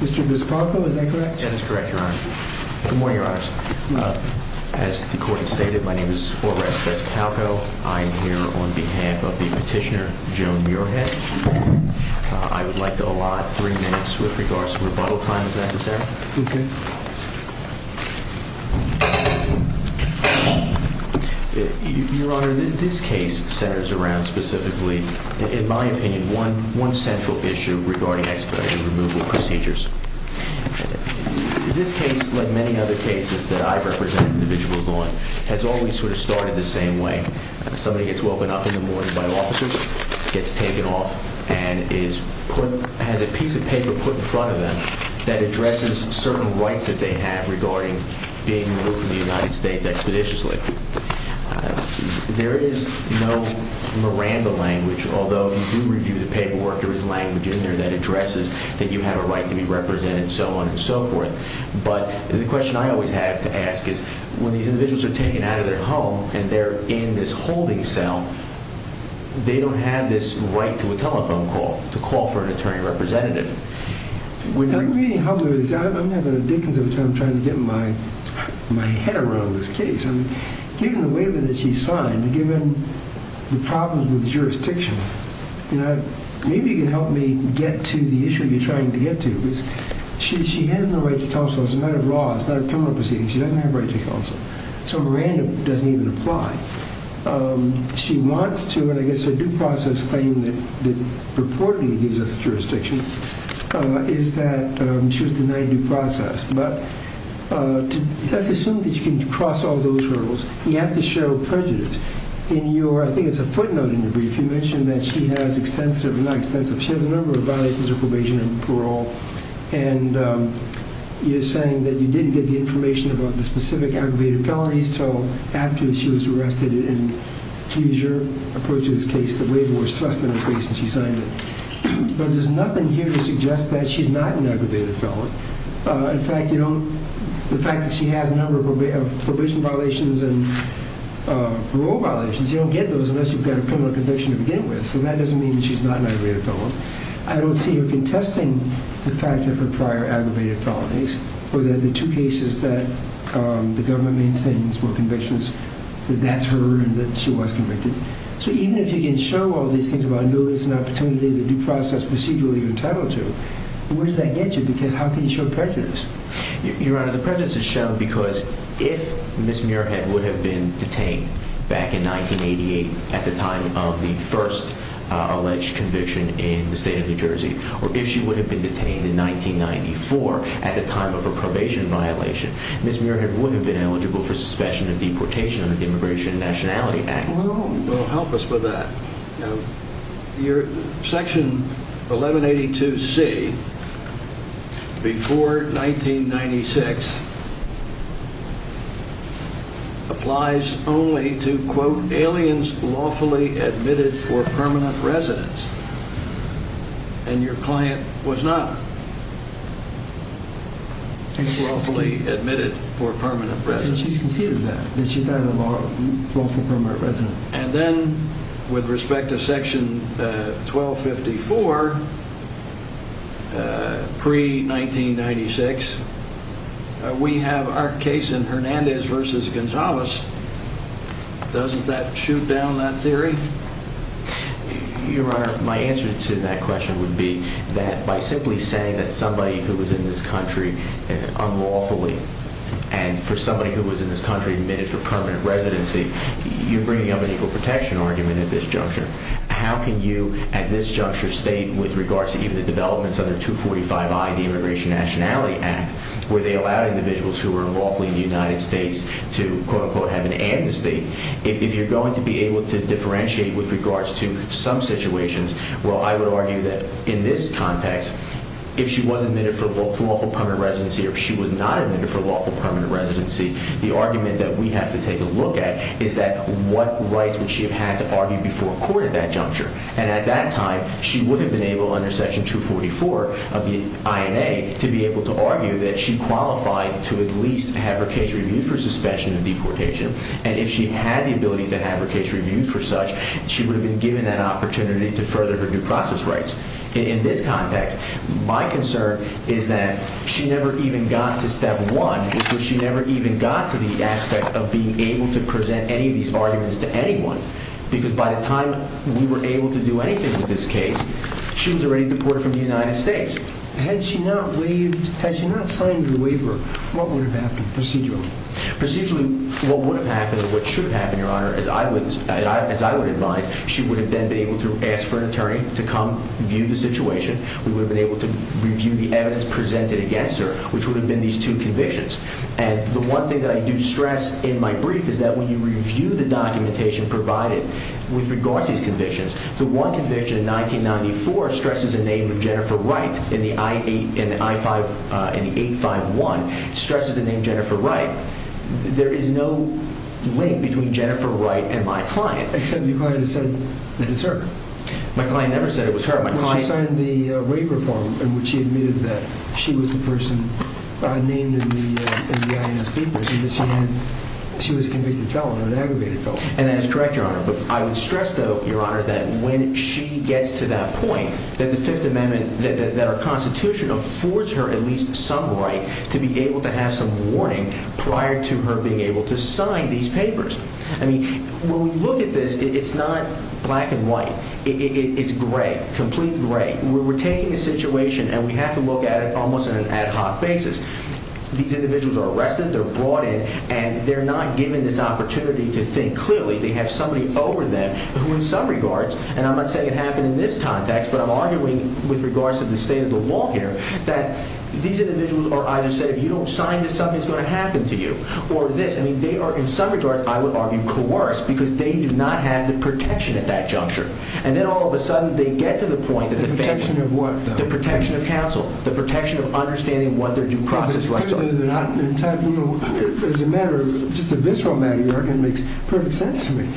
Mr. Biscalco, is that correct? That is correct, Your Honor. Good morning, Your Honors. As the Court has stated, my name is Horace Biscalco. I am here on behalf of the petitioner, Joan Muirhead. I would like to allot three minutes with regards to rebuttal time, if necessary. Okay. Your Honor, this case centers around specifically, in my opinion, one central issue regarding expedited removal procedures. This case, like many other cases that I represent individuals on, has always sort of started the same way. Somebody gets woken up in the morning by officers, gets taken off, and has a piece of paper put in front of them that addresses certain rights that they have regarding being removed from the United States expeditiously. There is no Miranda language, although we do review the paperwork, there is language in there that addresses that you have a right to be represented, and so on and so forth. But the question I always have to ask is, when these individuals are taken out of their home and they're in this holding cell, they don't have this right to a telephone call, to call for an attorney representative. I'm not going to dickens every time I'm trying to get my head around this case. Given the waiver that she signed, given the problems with jurisdiction, maybe you can help me get to the issue you're trying to get to. She has no right to counsel. It's a matter of law. It's not a criminal proceeding. She doesn't have a right to counsel. So Miranda doesn't even apply. She wants to, and I guess a due process claim that purportedly gives us jurisdiction, is that she was denied due process. But let's assume that you can cross all those hurdles. You have to show prejudice. In your, I think it's a footnote in your brief, you mentioned that she has extensive, not extensive, she has a number of violations of probation and parole, and you're saying that you didn't get the information about the specific aggravated felonies until after she was arrested in Fuger, approach to this case, the waiver was thrust in her face and she signed it. But there's nothing here to suggest that she's not an aggravated felon. In fact, you don't, the fact that she has a number of probation violations and parole violations, you don't get those unless you've got a criminal conviction to begin with. So that doesn't mean that she's not an aggravated felon. I don't see her contesting the fact of her prior aggravated felonies or the two cases that the government maintains were convictions that that's her and that she was convicted. So even if you can show all these things about notice and opportunity, the due process procedural you're entitled to, where does that get you? Because how can you show prejudice? Your Honor, the prejudice is shown because if Ms. Muirhead would have been detained back in 1988 at the time of the first alleged conviction in the state of New Jersey, or if she would have been detained in 1994 at the time of her probation violation, Ms. Muirhead would have been eligible for suspicion of deportation under the Immigration and Nationality Act. Well, help us with that. Section 1182C before 1996 applies only to, quote, aliens lawfully admitted for permanent residence, and your client was not lawfully admitted for permanent residence. And she's conceded that, that she's not a lawful permanent resident. And then with respect to Section 1254 pre-1996, we have our case in Hernandez v. Gonzalez. Doesn't that shoot down that theory? Your Honor, my answer to that question would be that by simply saying that somebody who was in this country unlawfully and for somebody who was in this country admitted for permanent residency, you're bringing up an equal protection argument at this juncture. How can you at this juncture state with regards to even the developments under 245I of the Immigration and Nationality Act where they allowed individuals who were lawfully in the United States to, quote, unquote, have an ad in the state? If you're going to be able to differentiate with regards to some situations, well, I would argue that in this context, if she was admitted for lawful permanent residency or if she was not admitted for lawful permanent residency, the argument that we have to take a look at is that what rights would she have had to argue before a court at that juncture? And at that time, she would have been able, under Section 244 of the INA, to be able to argue that she qualified to at least have her case reviewed for suspension of deportation. And if she had the ability to have her case reviewed for such, she would have been given that opportunity to further her due process rights in this context. My concern is that she never even got to step one, which was she never even got to the aspect of being able to present any of these arguments to anyone because by the time we were able to do anything with this case, she was already deported from the United States. Had she not signed the waiver, what would have happened procedurally? Procedurally, what would have happened or what should have happened, Your Honor, as I would advise, she would have then been able to ask for an attorney to come view the situation. We would have been able to review the evidence presented against her, which would have been these two convictions. And the one thing that I do stress in my brief is that when you review the documentation provided with regards to these convictions, the one conviction in 1994 stresses the name of Jennifer Wright in the I-8, in the I-5, in the 8-5-1, stresses the name Jennifer Wright. There is no link between Jennifer Wright and my client. Except your client has said it's her. My client never said it was her. Well, she signed the waiver form in which she admitted that she was the person named in the INS papers and that she was a convicted felon, an aggravated felon. And that is correct, Your Honor. But I would stress, though, Your Honor, that when she gets to that point, that the Fifth Amendment, that our Constitution affords her at least some right to be able to have some warning prior to her being able to sign these papers. I mean, when we look at this, it's not black and white. It's gray, complete gray. We're taking a situation and we have to look at it almost on an ad hoc basis. These individuals are arrested, they're brought in, and they're not given this opportunity to think clearly. They have somebody over them who, in some regards, and I'm not saying it happened in this context, but I'm arguing with regards to the state of the law here, that these individuals are either said, if you don't sign this, something's going to happen to you. Or this, I mean, they are, in some regards, I would argue, coerced because they do not have the protection at that juncture. And then all of a sudden, they get to the point that the family... The protection of what, though? The protection of counsel. The protection of understanding what their due process was. They're not entitled, you know, as a matter of, just a visceral matter, your argument makes perfect sense to me.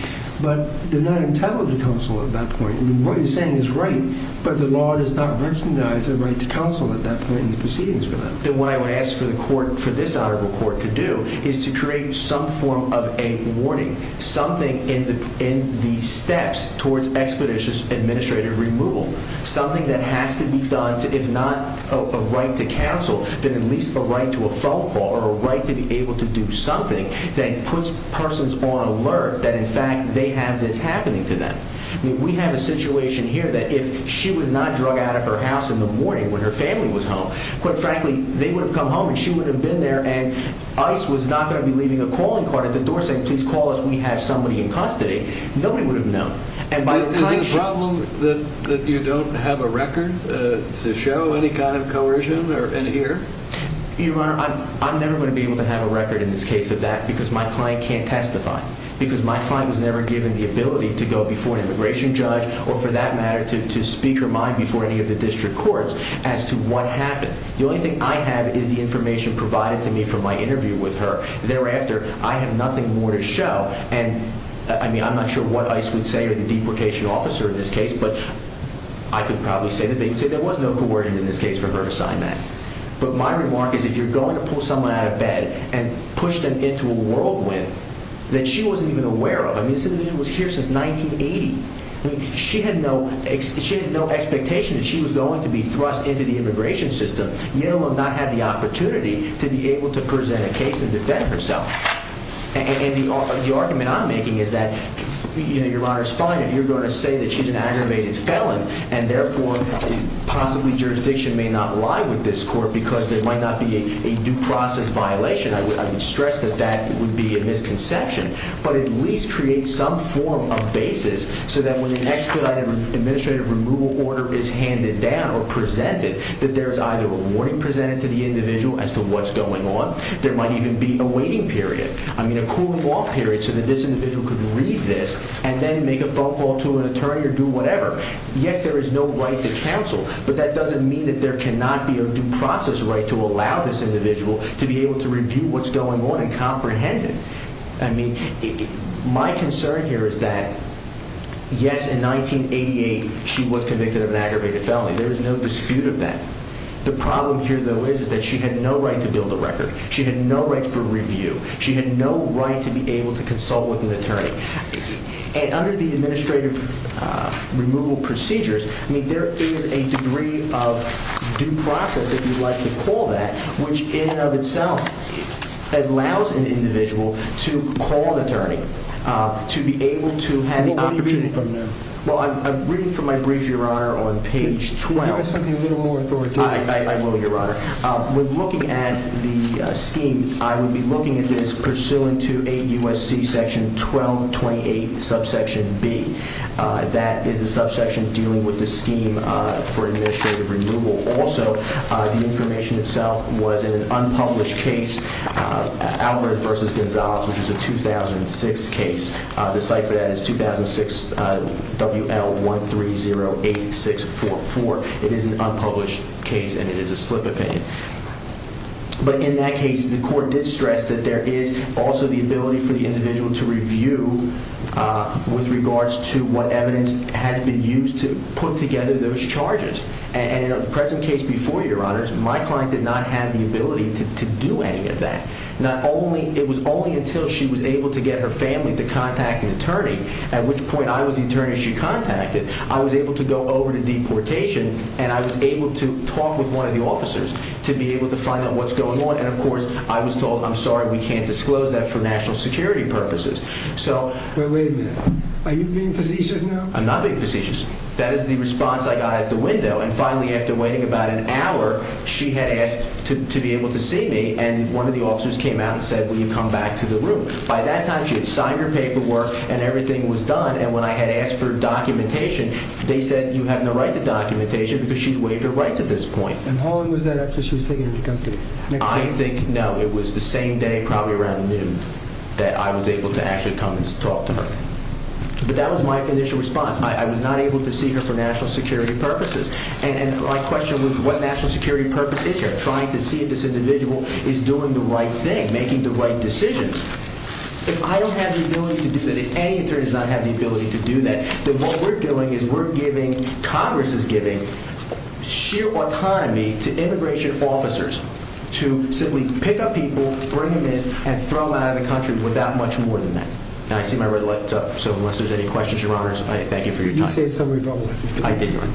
But they're not entitled to counsel at that point. I mean, what you're saying is right, but the law does not recognize their right to counsel at that point in the proceedings for them. What I would ask for this honorable court to do is to create some form of a warning, something in the steps towards expeditious administrative removal, something that has to be done to, if not a right to counsel, then at least a right to a phone call or a right to be able to do something that puts persons on alert that, in fact, they have this happening to them. We have a situation here that if she was not drug out of her house in the morning when her family was home, quite frankly, they would have come home and she would have been there and ICE was not going to be leaving a calling card at the door saying, please call us, we have somebody in custody. Nobody would have known. Is it a problem that you don't have a record to show any kind of coercion in here? Your Honor, I'm never going to be able to have a record in this case of that because my client can't testify, because my client was never given the ability to go before an immigration judge or for that matter to speak her mind before any of the district courts as to what happened. The only thing I have is the information provided to me from my interview with her. Thereafter, I have nothing more to show. And, I mean, I'm not sure what ICE would say or the deportation officer in this case, but I could probably say that there was no coercion in this case for her to sign that. But my remark is if you're going to pull someone out of bed and push them into a whirlwind that she wasn't even aware of, I mean, this individual was here since 1980. I mean, she had no expectation that she was going to be thrust into the immigration system, let alone not have the opportunity to be able to present a case and defend herself. And the argument I'm making is that, you know, Your Honor's fine if you're going to say that she's an aggravated felon and therefore possibly jurisdiction may not lie with this court because there might not be a due process violation. I would stress that that would be a misconception, but at least create some form of basis so that when an expedited administrative removal order is handed down or presented, that there's either a warning presented to the individual as to what's going on. There might even be a waiting period. I mean, a cool-off period so that this individual could read this and then make a phone call to an attorney or do whatever. Yes, there is no right to counsel, but that doesn't mean that there cannot be a due process right to allow this individual to be able to review what's going on and comprehend it. I mean, my concern here is that, yes, in 1988 she was convicted of an aggravated felony. There is no dispute of that. The problem here, though, is that she had no right to build a record. She had no right for review. She had no right to be able to consult with an attorney. And under the administrative removal procedures, I mean, there is a degree of due process, if you'd like to call that, which in and of itself allows an individual to call an attorney to be able to have the opportunity. Well, what are you reading from there? Well, I'm reading from my brief, Your Honor, on page 12. Can you tell us something a little more authoritative? I will, Your Honor. When looking at the scheme, I would be looking at this pursuant to 8 U.S.C. section 1228 subsection B. That is a subsection dealing with the scheme for administrative removal. Also, the information itself was in an unpublished case, Alfred v. Gonzalez, which is a 2006 case. The site for that is 2006 WL1308644. It is an unpublished case, and it is a slip opinion. But in that case, the court did stress that there is also the ability for the individual to review with regards to what evidence has been used to put together those charges. In the present case before you, Your Honors, my client did not have the ability to do any of that. It was only until she was able to get her family to contact an attorney, at which point I was the attorney she contacted, I was able to go over to deportation and I was able to talk with one of the officers to be able to find out what's going on. Of course, I was told, I'm sorry, we can't disclose that for national security purposes. Wait a minute. Are you being facetious now? I'm not being facetious. That is the response I got at the window, and finally, after waiting about an hour, she had asked to be able to see me, and one of the officers came out and said, will you come back to the room? By that time, she had signed her paperwork and everything was done, and when I had asked for documentation, they said, you have no right to documentation because she's waived her rights at this point. And how long was that after she was taken to the custody? I think, no, it was the same day, probably around noon, that I was able to actually come and talk to her. But that was my initial response. I was not able to see her for national security purposes. And my question was, what national security purpose is here? Trying to see if this individual is doing the right thing, making the right decisions. If I don't have the ability to do that, if any attorney does not have the ability to do that, then what we're doing is we're giving, Congress is giving, sheer autonomy to immigration officers to simply pick up people, bring them in, and throw them out of the country without much more than that. And I see my red light's up, so unless there's any questions, Your Honors, I thank you for your time. You saved somebody a problem. I did, Your Honor.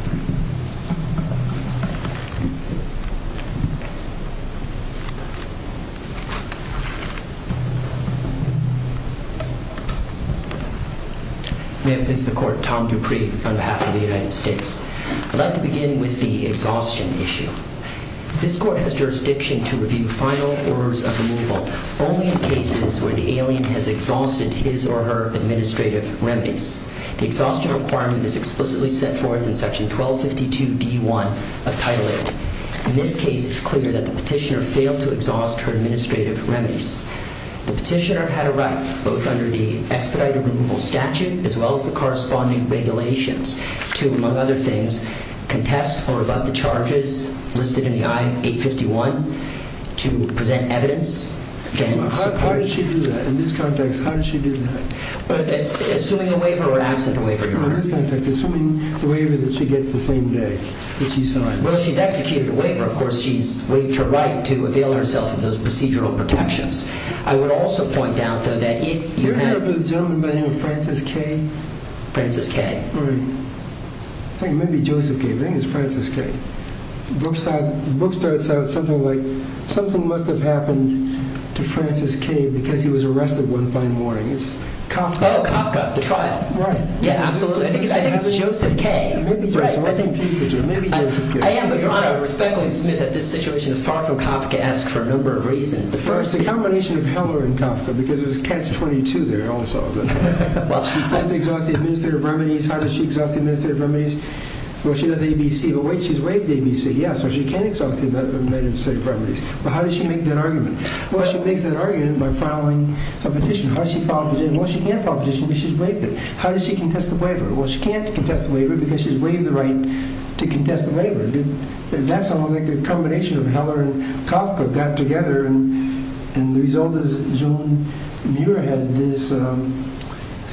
May it please the Court, Tom Dupree on behalf of the United States. I'd like to begin with the exhaustion issue. This Court has jurisdiction to review final orders of removal only in cases where the alien has exhausted his or her administrative remedies. The exhaustion requirement is explicitly set forth in Section 1252D1 of Title 8. In this case, it's clear that the petitioner failed to exhaust her administrative remedies. The petitioner had a right, both under the expedited removal statute, as well as the corresponding regulations, to, among other things, contest or rebut the charges listed in the I-851 to present evidence. How did she do that? In this context, how did she do that? Assuming a waiver or absent a waiver, Your Honor. In this context, assuming the waiver that she gets the same day that she signs. Well, she's executed a waiver. Of course, she's waived her right to avail herself of those procedural protections. I would also point out, though, that if you have... You're here for the gentleman by the name of Francis Kay? Francis Kay. Right. I think it might be Joseph Kay. I think it's Francis Kay. The book starts out something like, something must have happened to Francis Kay because he was arrested one fine morning. It's Kafka. Oh, Kafka. The trial. Right. Yeah, absolutely. I think it's Joseph Kay. Maybe Joseph. I'm confused. Maybe Joseph Kay. I am, but, Your Honor, respectfully submit that this situation is far from Kafkaesque for a number of reasons. First, the combination of Heller and Kafka, because there's catch-22 there also. Exhaust the Administrative Remedies. How does she exhaust the Administrative Remedies? Well, she does ABC. But wait, she's waived ABC. Yeah, so she can exhaust the Administrative Remedies. But how does she make that argument? Well, she makes that argument by filing a petition. How does she file a petition? Well, she can't file a petition because she's waived it. How does she contest the waiver? Well, she can't contest the waiver because she's waived the right to contest the waiver. That's almost like a combination of Heller and Kafka got together, and the result is Joan Muir had this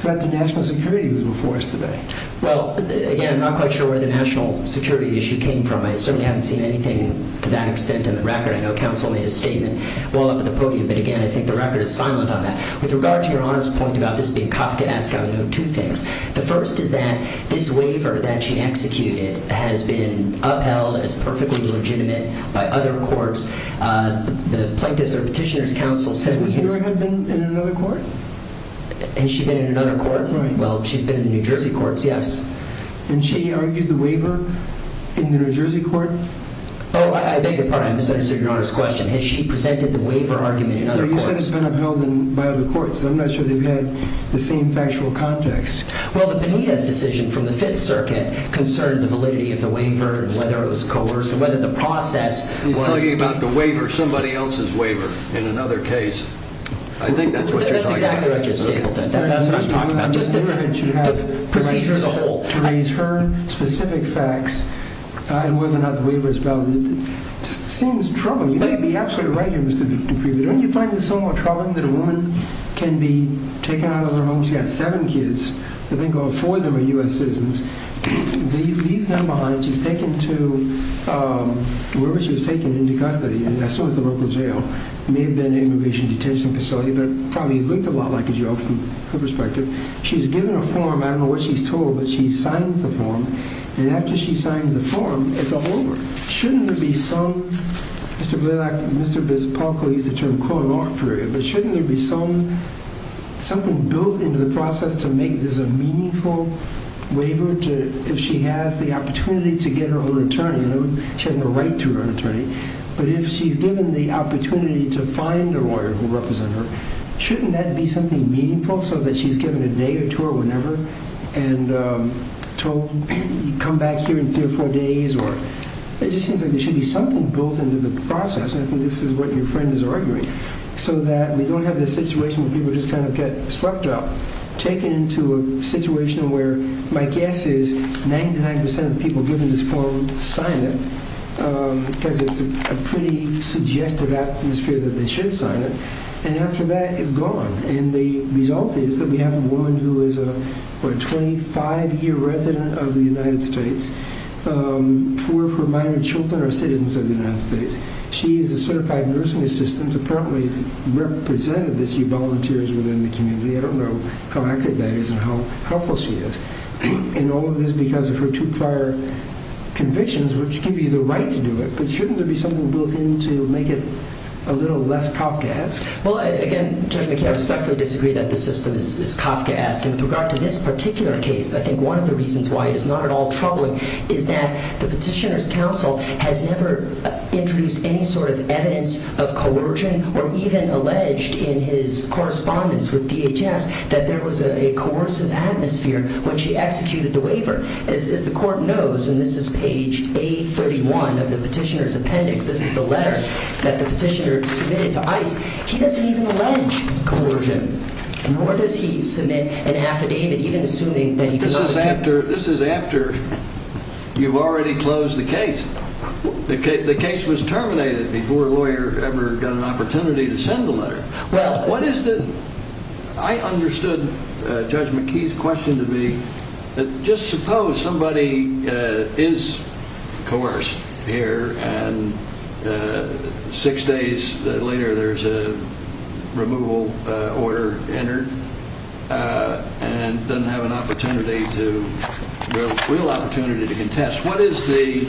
threat to national security before us today. Well, again, I'm not quite sure where the national security issue came from. I certainly haven't seen anything to that extent in the record. I know counsel made a statement while up at the podium, but, again, I think the record is silent on that. With regard to Your Honor's point about this being Kafkaesque, I would note two things. The first is that this waiver that she executed has been upheld as perfectly legitimate by other courts. The plaintiffs' or petitioners' counsel said it was— Has Muir been in another court? Has she been in another court? Well, she's been in the New Jersey courts, yes. And she argued the waiver in the New Jersey court? Oh, I beg your pardon. I misunderstood Your Honor's question. Has she presented the waiver argument in other courts? Well, you said it's been upheld by other courts. I'm not sure they've had the same factual context. Well, the Benitez decision from the Fifth Circuit concerned the validity of the waiver and whether it was coerced and whether the process was— We're talking about the waiver, somebody else's waiver. In another case, I think that's what you're talking about. That's exactly right, Judge Stapleton. That's what I'm talking about. Just the procedure as a whole. To raise her specific facts and whether or not the waiver is valid just seems troubling. You may be absolutely right here, Mr. Dupree, but don't you find this so troubling that a woman can be taken out of her home? She's got seven kids. I think all four of them are U.S. citizens. She leaves them behind. She's taken to wherever she was taken into custody, and that's always the local jail. It may have been an immigration detention facility, but it probably looked a lot like a jail from her perspective. She's given a form. I don't know what she's told, but she signs the form, and after she signs the form, it's all over. Shouldn't there be some— Mr. Blalock, Mr. Bispolko used the term quote-unquote for it, but shouldn't there be something built into the process to make this a meaningful waiver if she has the opportunity to get her own attorney? She has no right to her own attorney, but if she's given the opportunity to find a lawyer who will represent her, shouldn't that be something meaningful so that she's given a day or two or whenever and told come back here in three or four days? It just seems like there should be something built into the process, and I think this is what your friend is arguing, so that we don't have this situation where people just kind of get swept up, taken into a situation where my guess is 99% of people given this form sign it because it's a pretty suggestive atmosphere that they should sign it, and after that, it's gone, and the result is that we have a woman who is a 25-year resident of the United States. Four of her minor children are citizens of the United States. She is a certified nursing assistant. Apparently, it's represented that she volunteers within the community. I don't know how accurate that is and how helpful she is, and all of this because of her two prior convictions, which give you the right to do it, but shouldn't there be something built in to make it a little less Kafkaesque? Well, again, Judge McKay, I respectfully disagree that the system is Kafkaesque, and with regard to this particular case, I think one of the reasons why it is not at all troubling is that the petitioner's counsel has never introduced any sort of evidence of coercion or even alleged in his correspondence with DHS that there was a coercive atmosphere when she executed the waiver. As the court knows, and this is page A31 of the petitioner's appendix, this is the letter that the petitioner submitted to ICE, he doesn't even allege coercion, nor does he submit an affidavit, even assuming that he could have attempted it. This is after you've already closed the case. The case was terminated before a lawyer ever got an opportunity to send the letter. Well, what is the... I understood Judge McKay's question to be that just suppose somebody is coerced here and six days later there's a removal order entered and doesn't have a real opportunity to contest. Judge,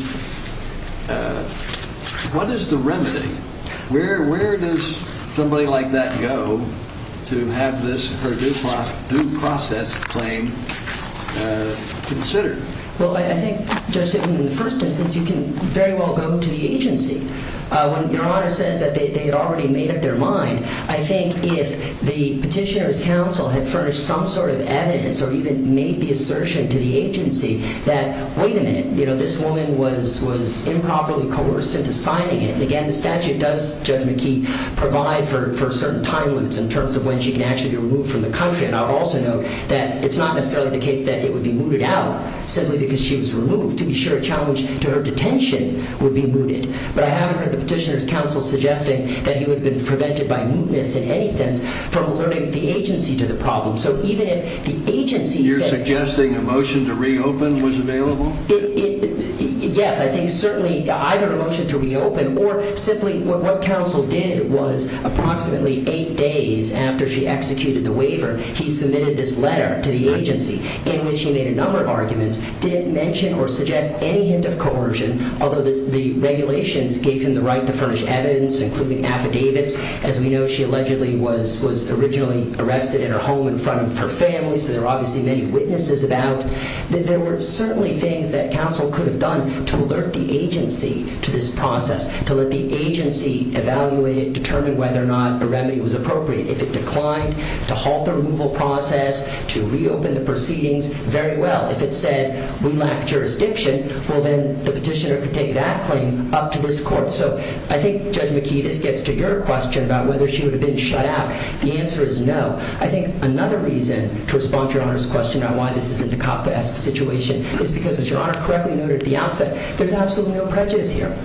what is the remedy? Where does somebody like that go to have this due process claim considered? Well, I think, Judge, in the first instance, you can very well go to the agency. When Your Honor says that they had already made up their mind, I think if the petitioner's counsel had furnished some sort of evidence or even made the assertion to the agency that, wait a minute, this woman was improperly coerced into signing it. And again, the statute does, Judge McKay, provide for certain time limits in terms of when she can actually be removed from the country. And I would also note that it's not necessarily the case that it would be mooted out simply because she was removed. To be sure, a challenge to her detention would be mooted. But I haven't heard the petitioner's counsel suggesting that he would have been prevented by mootness in any sense from alerting the agency to the problem. You're suggesting a motion to reopen was available? Yes, I think certainly either a motion to reopen or simply what counsel did was approximately eight days after she executed the waiver, he submitted this letter to the agency in which he made a number of arguments, didn't mention or suggest any hint of coercion, although the regulations gave him the right to furnish evidence, including affidavits. As we know, she allegedly was originally arrested in her home in front of her family, so there were obviously many witnesses about. There were certainly things that counsel could have done to alert the agency to this process, to let the agency evaluate it, determine whether or not a remedy was appropriate. If it declined to halt the removal process, to reopen the proceedings, very well. If it said, we lack jurisdiction, well, then the petitioner could take that claim up to this court. So I think, Judge McKee, this gets to your question about whether she would have been shut out. The answer is no. I think another reason to respond to Your Honor's question on why this is a Dukovka-esque situation is because, as Your Honor correctly noted at the outset, there's absolutely no prejudice here.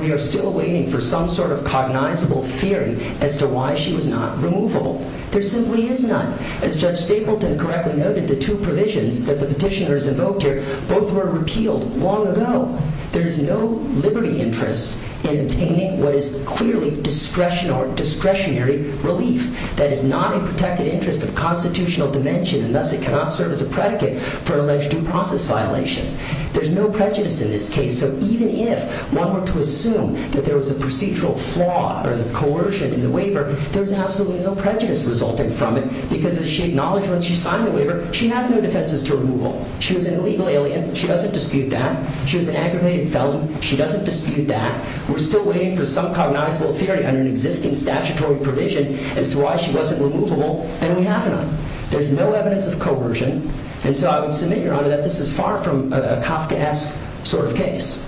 We are still waiting for some sort of cognizable theory as to why she was not removable. There simply is none. As Judge Stapleton correctly noted, the two provisions that the petitioners invoked here both were repealed long ago. There is no liberty interest in obtaining what is clearly discretionary relief. That is not a protected interest of constitutional dimension, and thus it cannot serve as a predicate for an alleged due process violation. There's no prejudice in this case. So even if one were to assume that there was a procedural flaw or coercion in the waiver, there's absolutely no prejudice resulting from it because, as she acknowledged when she signed the waiver, she has no defenses to removal. She was an illegal alien. She doesn't dispute that. She was an aggravated felon. She doesn't dispute that. We're still waiting for some cognizable theory under an existing statutory provision as to why she wasn't removable, and we have none. There's no evidence of coercion. And so I would submit, Your Honor, that this is far from a Dukovka-esque sort of case.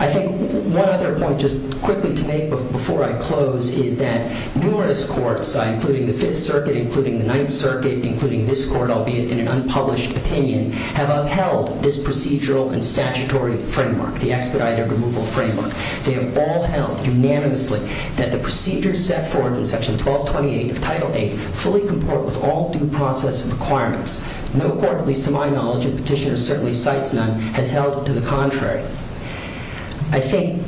I think one other point just quickly to make before I close is that numerous courts, including the Fifth Circuit, including the Ninth Circuit, including this court, albeit in an unpublished opinion, have upheld this procedural and statutory framework, the expedited removal framework. They have all held unanimously that the procedures set forth in Section 1228 of Title VIII fully comport with all due process requirements. No court, at least to my knowledge, and Petitioner certainly cites none, has held to the contrary. I think,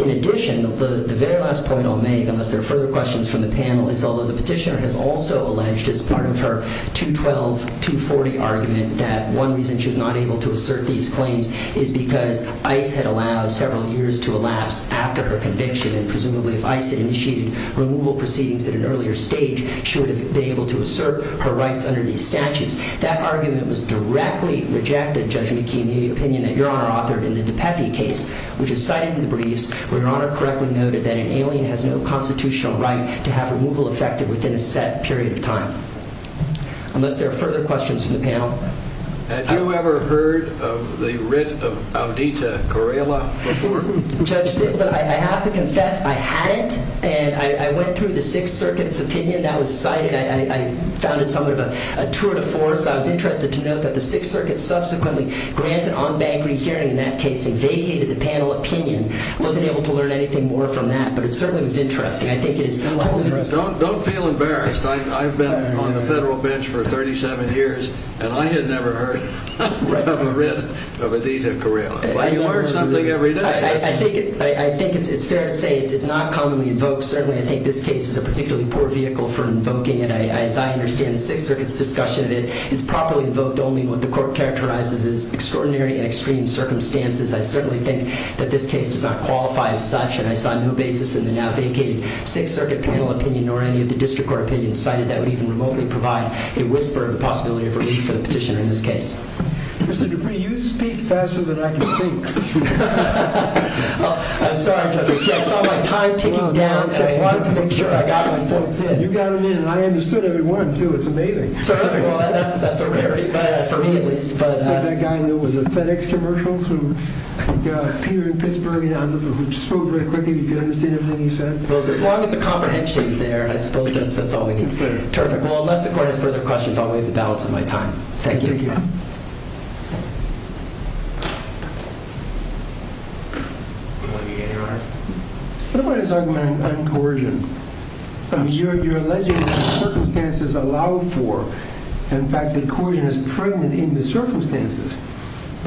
in addition, the very last point I'll make, unless there are further questions from the panel, is although the Petitioner has also alleged, as part of her 212-240 argument, that one reason she was not able to assert these claims is because ICE had allowed several years to elapse after her conviction, and presumably if ICE had initiated removal proceedings at an earlier stage, she would have been able to assert her rights under these statutes. That argument was directly rejected, Judge McKee, in the opinion that Your Honor authored in the DiPepe case, which is cited in the briefs where Your Honor correctly noted that an alien has no constitutional right to have removal effected within a set period of time. Unless there are further questions from the panel. Had you ever heard of the writ of Audita Correla before? Judge Stiglitz, I have to confess I hadn't, and I went through the Sixth Circuit's opinion that was cited. I found it somewhat of a tour de force. I was interested to note that the Sixth Circuit subsequently granted on-bank rehearing in that case and vacated the panel opinion. I wasn't able to learn anything more from that, but it certainly was interesting. Don't feel embarrassed. I've been on the federal bench for 37 years, and I had never heard of a writ of Audita Correla. But you learn something every day. I think it's fair to say it's not commonly invoked. Certainly I think this case is a particularly poor vehicle for invoking it. As I understand the Sixth Circuit's discussion of it, it's properly invoked only when the court characterizes as extraordinary and extreme circumstances. I certainly think that this case does not qualify as such, and I saw no basis in the now vacated Sixth Circuit panel opinion nor any of the district court opinions cited that would even remotely provide a whisper of the possibility of a read for the petitioner in this case. Mr. Dupree, you speak faster than I can think. I'm sorry, Judge Stiglitz. I saw my time ticking down, and I wanted to make sure I got my points in. You got them in, and I understood every one, too. It's amazing. Well, that's a rarity for me, at least. That guy that was a FedEx commercial through Peter in Pittsburgh who spoke very quickly. Did you understand everything he said? Well, as long as the comprehension is there, I suppose that's all we need. Terrific. Well, unless the court has further questions, I'll waive the balance of my time. Thank you. Thank you. What about his argument on coercion? You're alleging that circumstances allow for, in fact, that coercion is pregnant in the circumstances.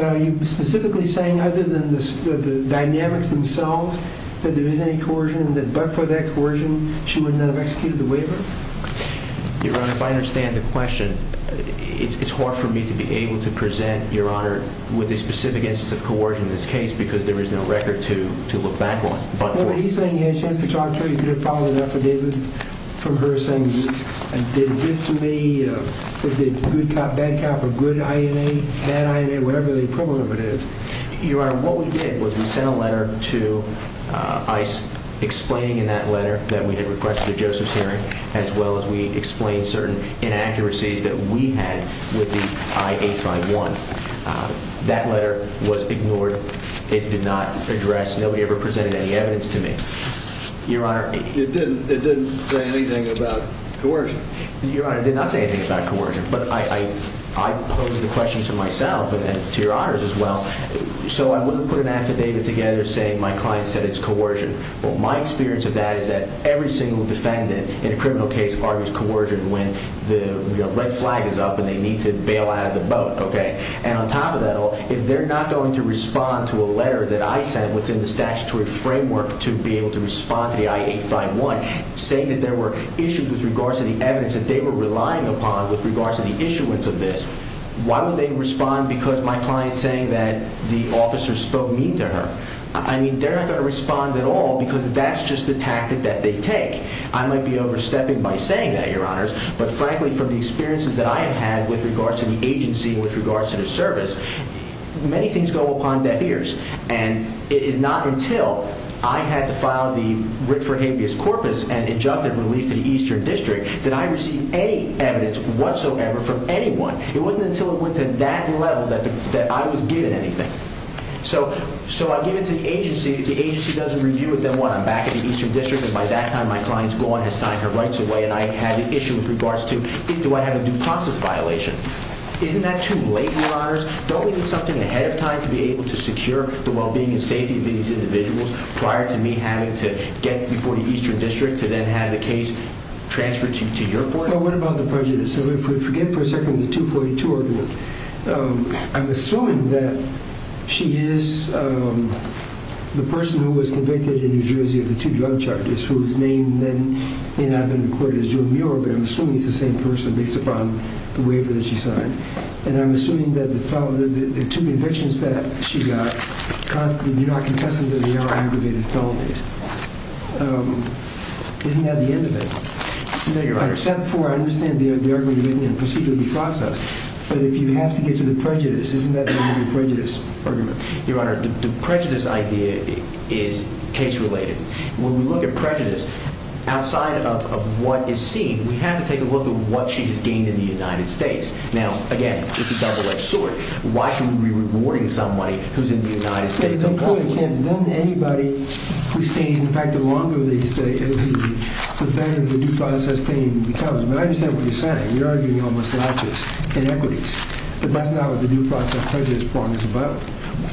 Are you specifically saying, other than the dynamics themselves, that there is any coercion and that but for that coercion, she would not have executed the waiver? Your Honor, if I understand the question, it's hard for me to be able to present, Your Honor, with a specific instance of coercion in this case because there is no record to look back on but for it. Are you saying you had a chance to talk to her? You did a follow-up for David from her saying, did this to me, is it good cop, bad cop, or good INA, bad INA, whatever the equivalent of it is? Your Honor, what we did was we sent a letter to ICE explaining in that letter that we had requested a Joseph's hearing as well as we explained certain inaccuracies that we had with the I-851. That letter was ignored. It did not address. Nobody ever presented any evidence to me. Your Honor. It didn't say anything about coercion. Your Honor, it did not say anything about coercion but I posed the question to myself and to Your Honors as well. So I wouldn't put an affidavit together saying my client said it's coercion. My experience of that is that every single defendant in a criminal case argues coercion when the red flag is up and they need to bail out of the boat. And on top of that all, if they're not going to respond to a letter that I sent within the statutory framework to be able to respond to the I-851 saying that there were issues with regards to the evidence that they were relying upon with regards to the issuance of this, why would they respond because my client is saying that the officer spoke mean to her? I mean, they're not going to respond at all because that's just the tactic that they take. I might be overstepping by saying that, Your Honors, but frankly from the experiences that I have had with regards to the agency and with regards to the service, many things go upon deaf ears. And it is not until I had to file the writ for habeas corpus and injunctive relief to the Eastern District that I received any evidence whatsoever from anyone. It wasn't until it went to that level that I was given anything. So I give it to the agency. The agency does a review with them when I'm back in the Eastern District and by that time my client's gone, has signed her rights away, and I have the issue with regards to do I have a due process violation. Isn't that too late, Your Honors? Don't we need something ahead of time to be able to secure the well-being and safety of these individuals prior to me having to get before the Eastern District to then have the case transferred to your court? Well, what about the prejudice? If we forget for a second the 242 argument, I'm assuming that she is the person who was convicted in New Jersey of the two drug charges, whose name then may not have been recorded as June Muir, but I'm assuming it's the same person based upon the waiver that she signed. And I'm assuming that the two convictions that she got constantly do not contest with the other aggravated felonies. Isn't that the end of it? No, Your Honor. Except for I understand the argument written in the procedural process, but if you have to get to the prejudice, isn't that the end of the prejudice argument? Your Honor, the prejudice idea is case-related. When we look at prejudice, outside of what is seen, we have to take a look at what she has gained in the United States. Now, again, it's a double-edged sword. Why should we be rewarding somebody who's in the United States? It's important, Ken, that anybody who stays, in fact, the longer they stay, the better the due process team becomes. But I understand what you're saying. You're arguing almost laches, inequities. But that's not what the due process prejudice problem is about.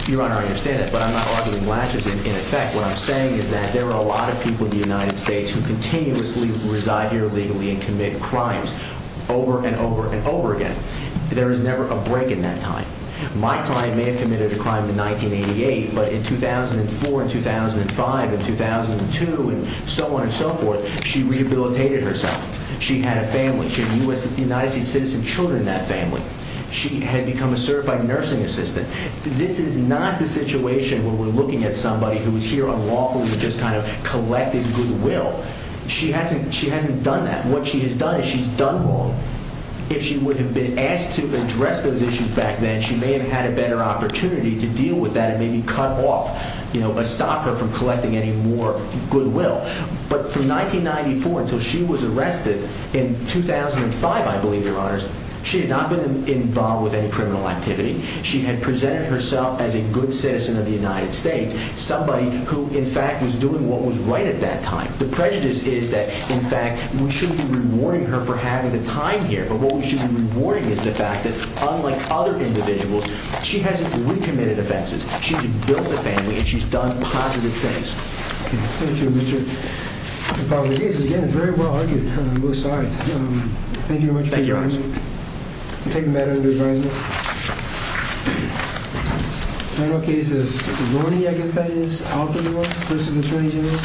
Your Honor, I understand that, but I'm not arguing laches. In effect, what I'm saying is that there are a lot of people in the United States who continuously reside here illegally and commit crimes over and over and over again. There is never a break in that time. My client may have committed a crime in 1988, but in 2004 and 2005 and 2002 and so on and so forth, she rehabilitated herself. She had a family. She had United States citizen children in that family. She had become a certified nursing assistant. This is not the situation where we're looking at somebody who is here unlawfully and just kind of collecting goodwill. She hasn't done that. What she has done is she's done wrong. If she would have been asked to address those issues back then, she may have had a better opportunity to deal with that and maybe cut off or stop her from collecting any more goodwill. But from 1994 until she was arrested, in 2005, I believe, Your Honors, she had not been involved with any criminal activity. She had presented herself as a good citizen of the United States, somebody who, in fact, was doing what was right at that time. The prejudice is that, in fact, we shouldn't be rewarding her for having the time here, but what we should be rewarding is the fact that, unlike other individuals, she hasn't recommitted offenses. She's built a family and she's done positive things. Thank you, Richard. The public is, again, very well argued on both sides. Thank you very much for your time. Thank you, Your Honors. I'm taking that under advisement. Thank you. The final case is Lordi, I guess that is, out the door versus Attorney General.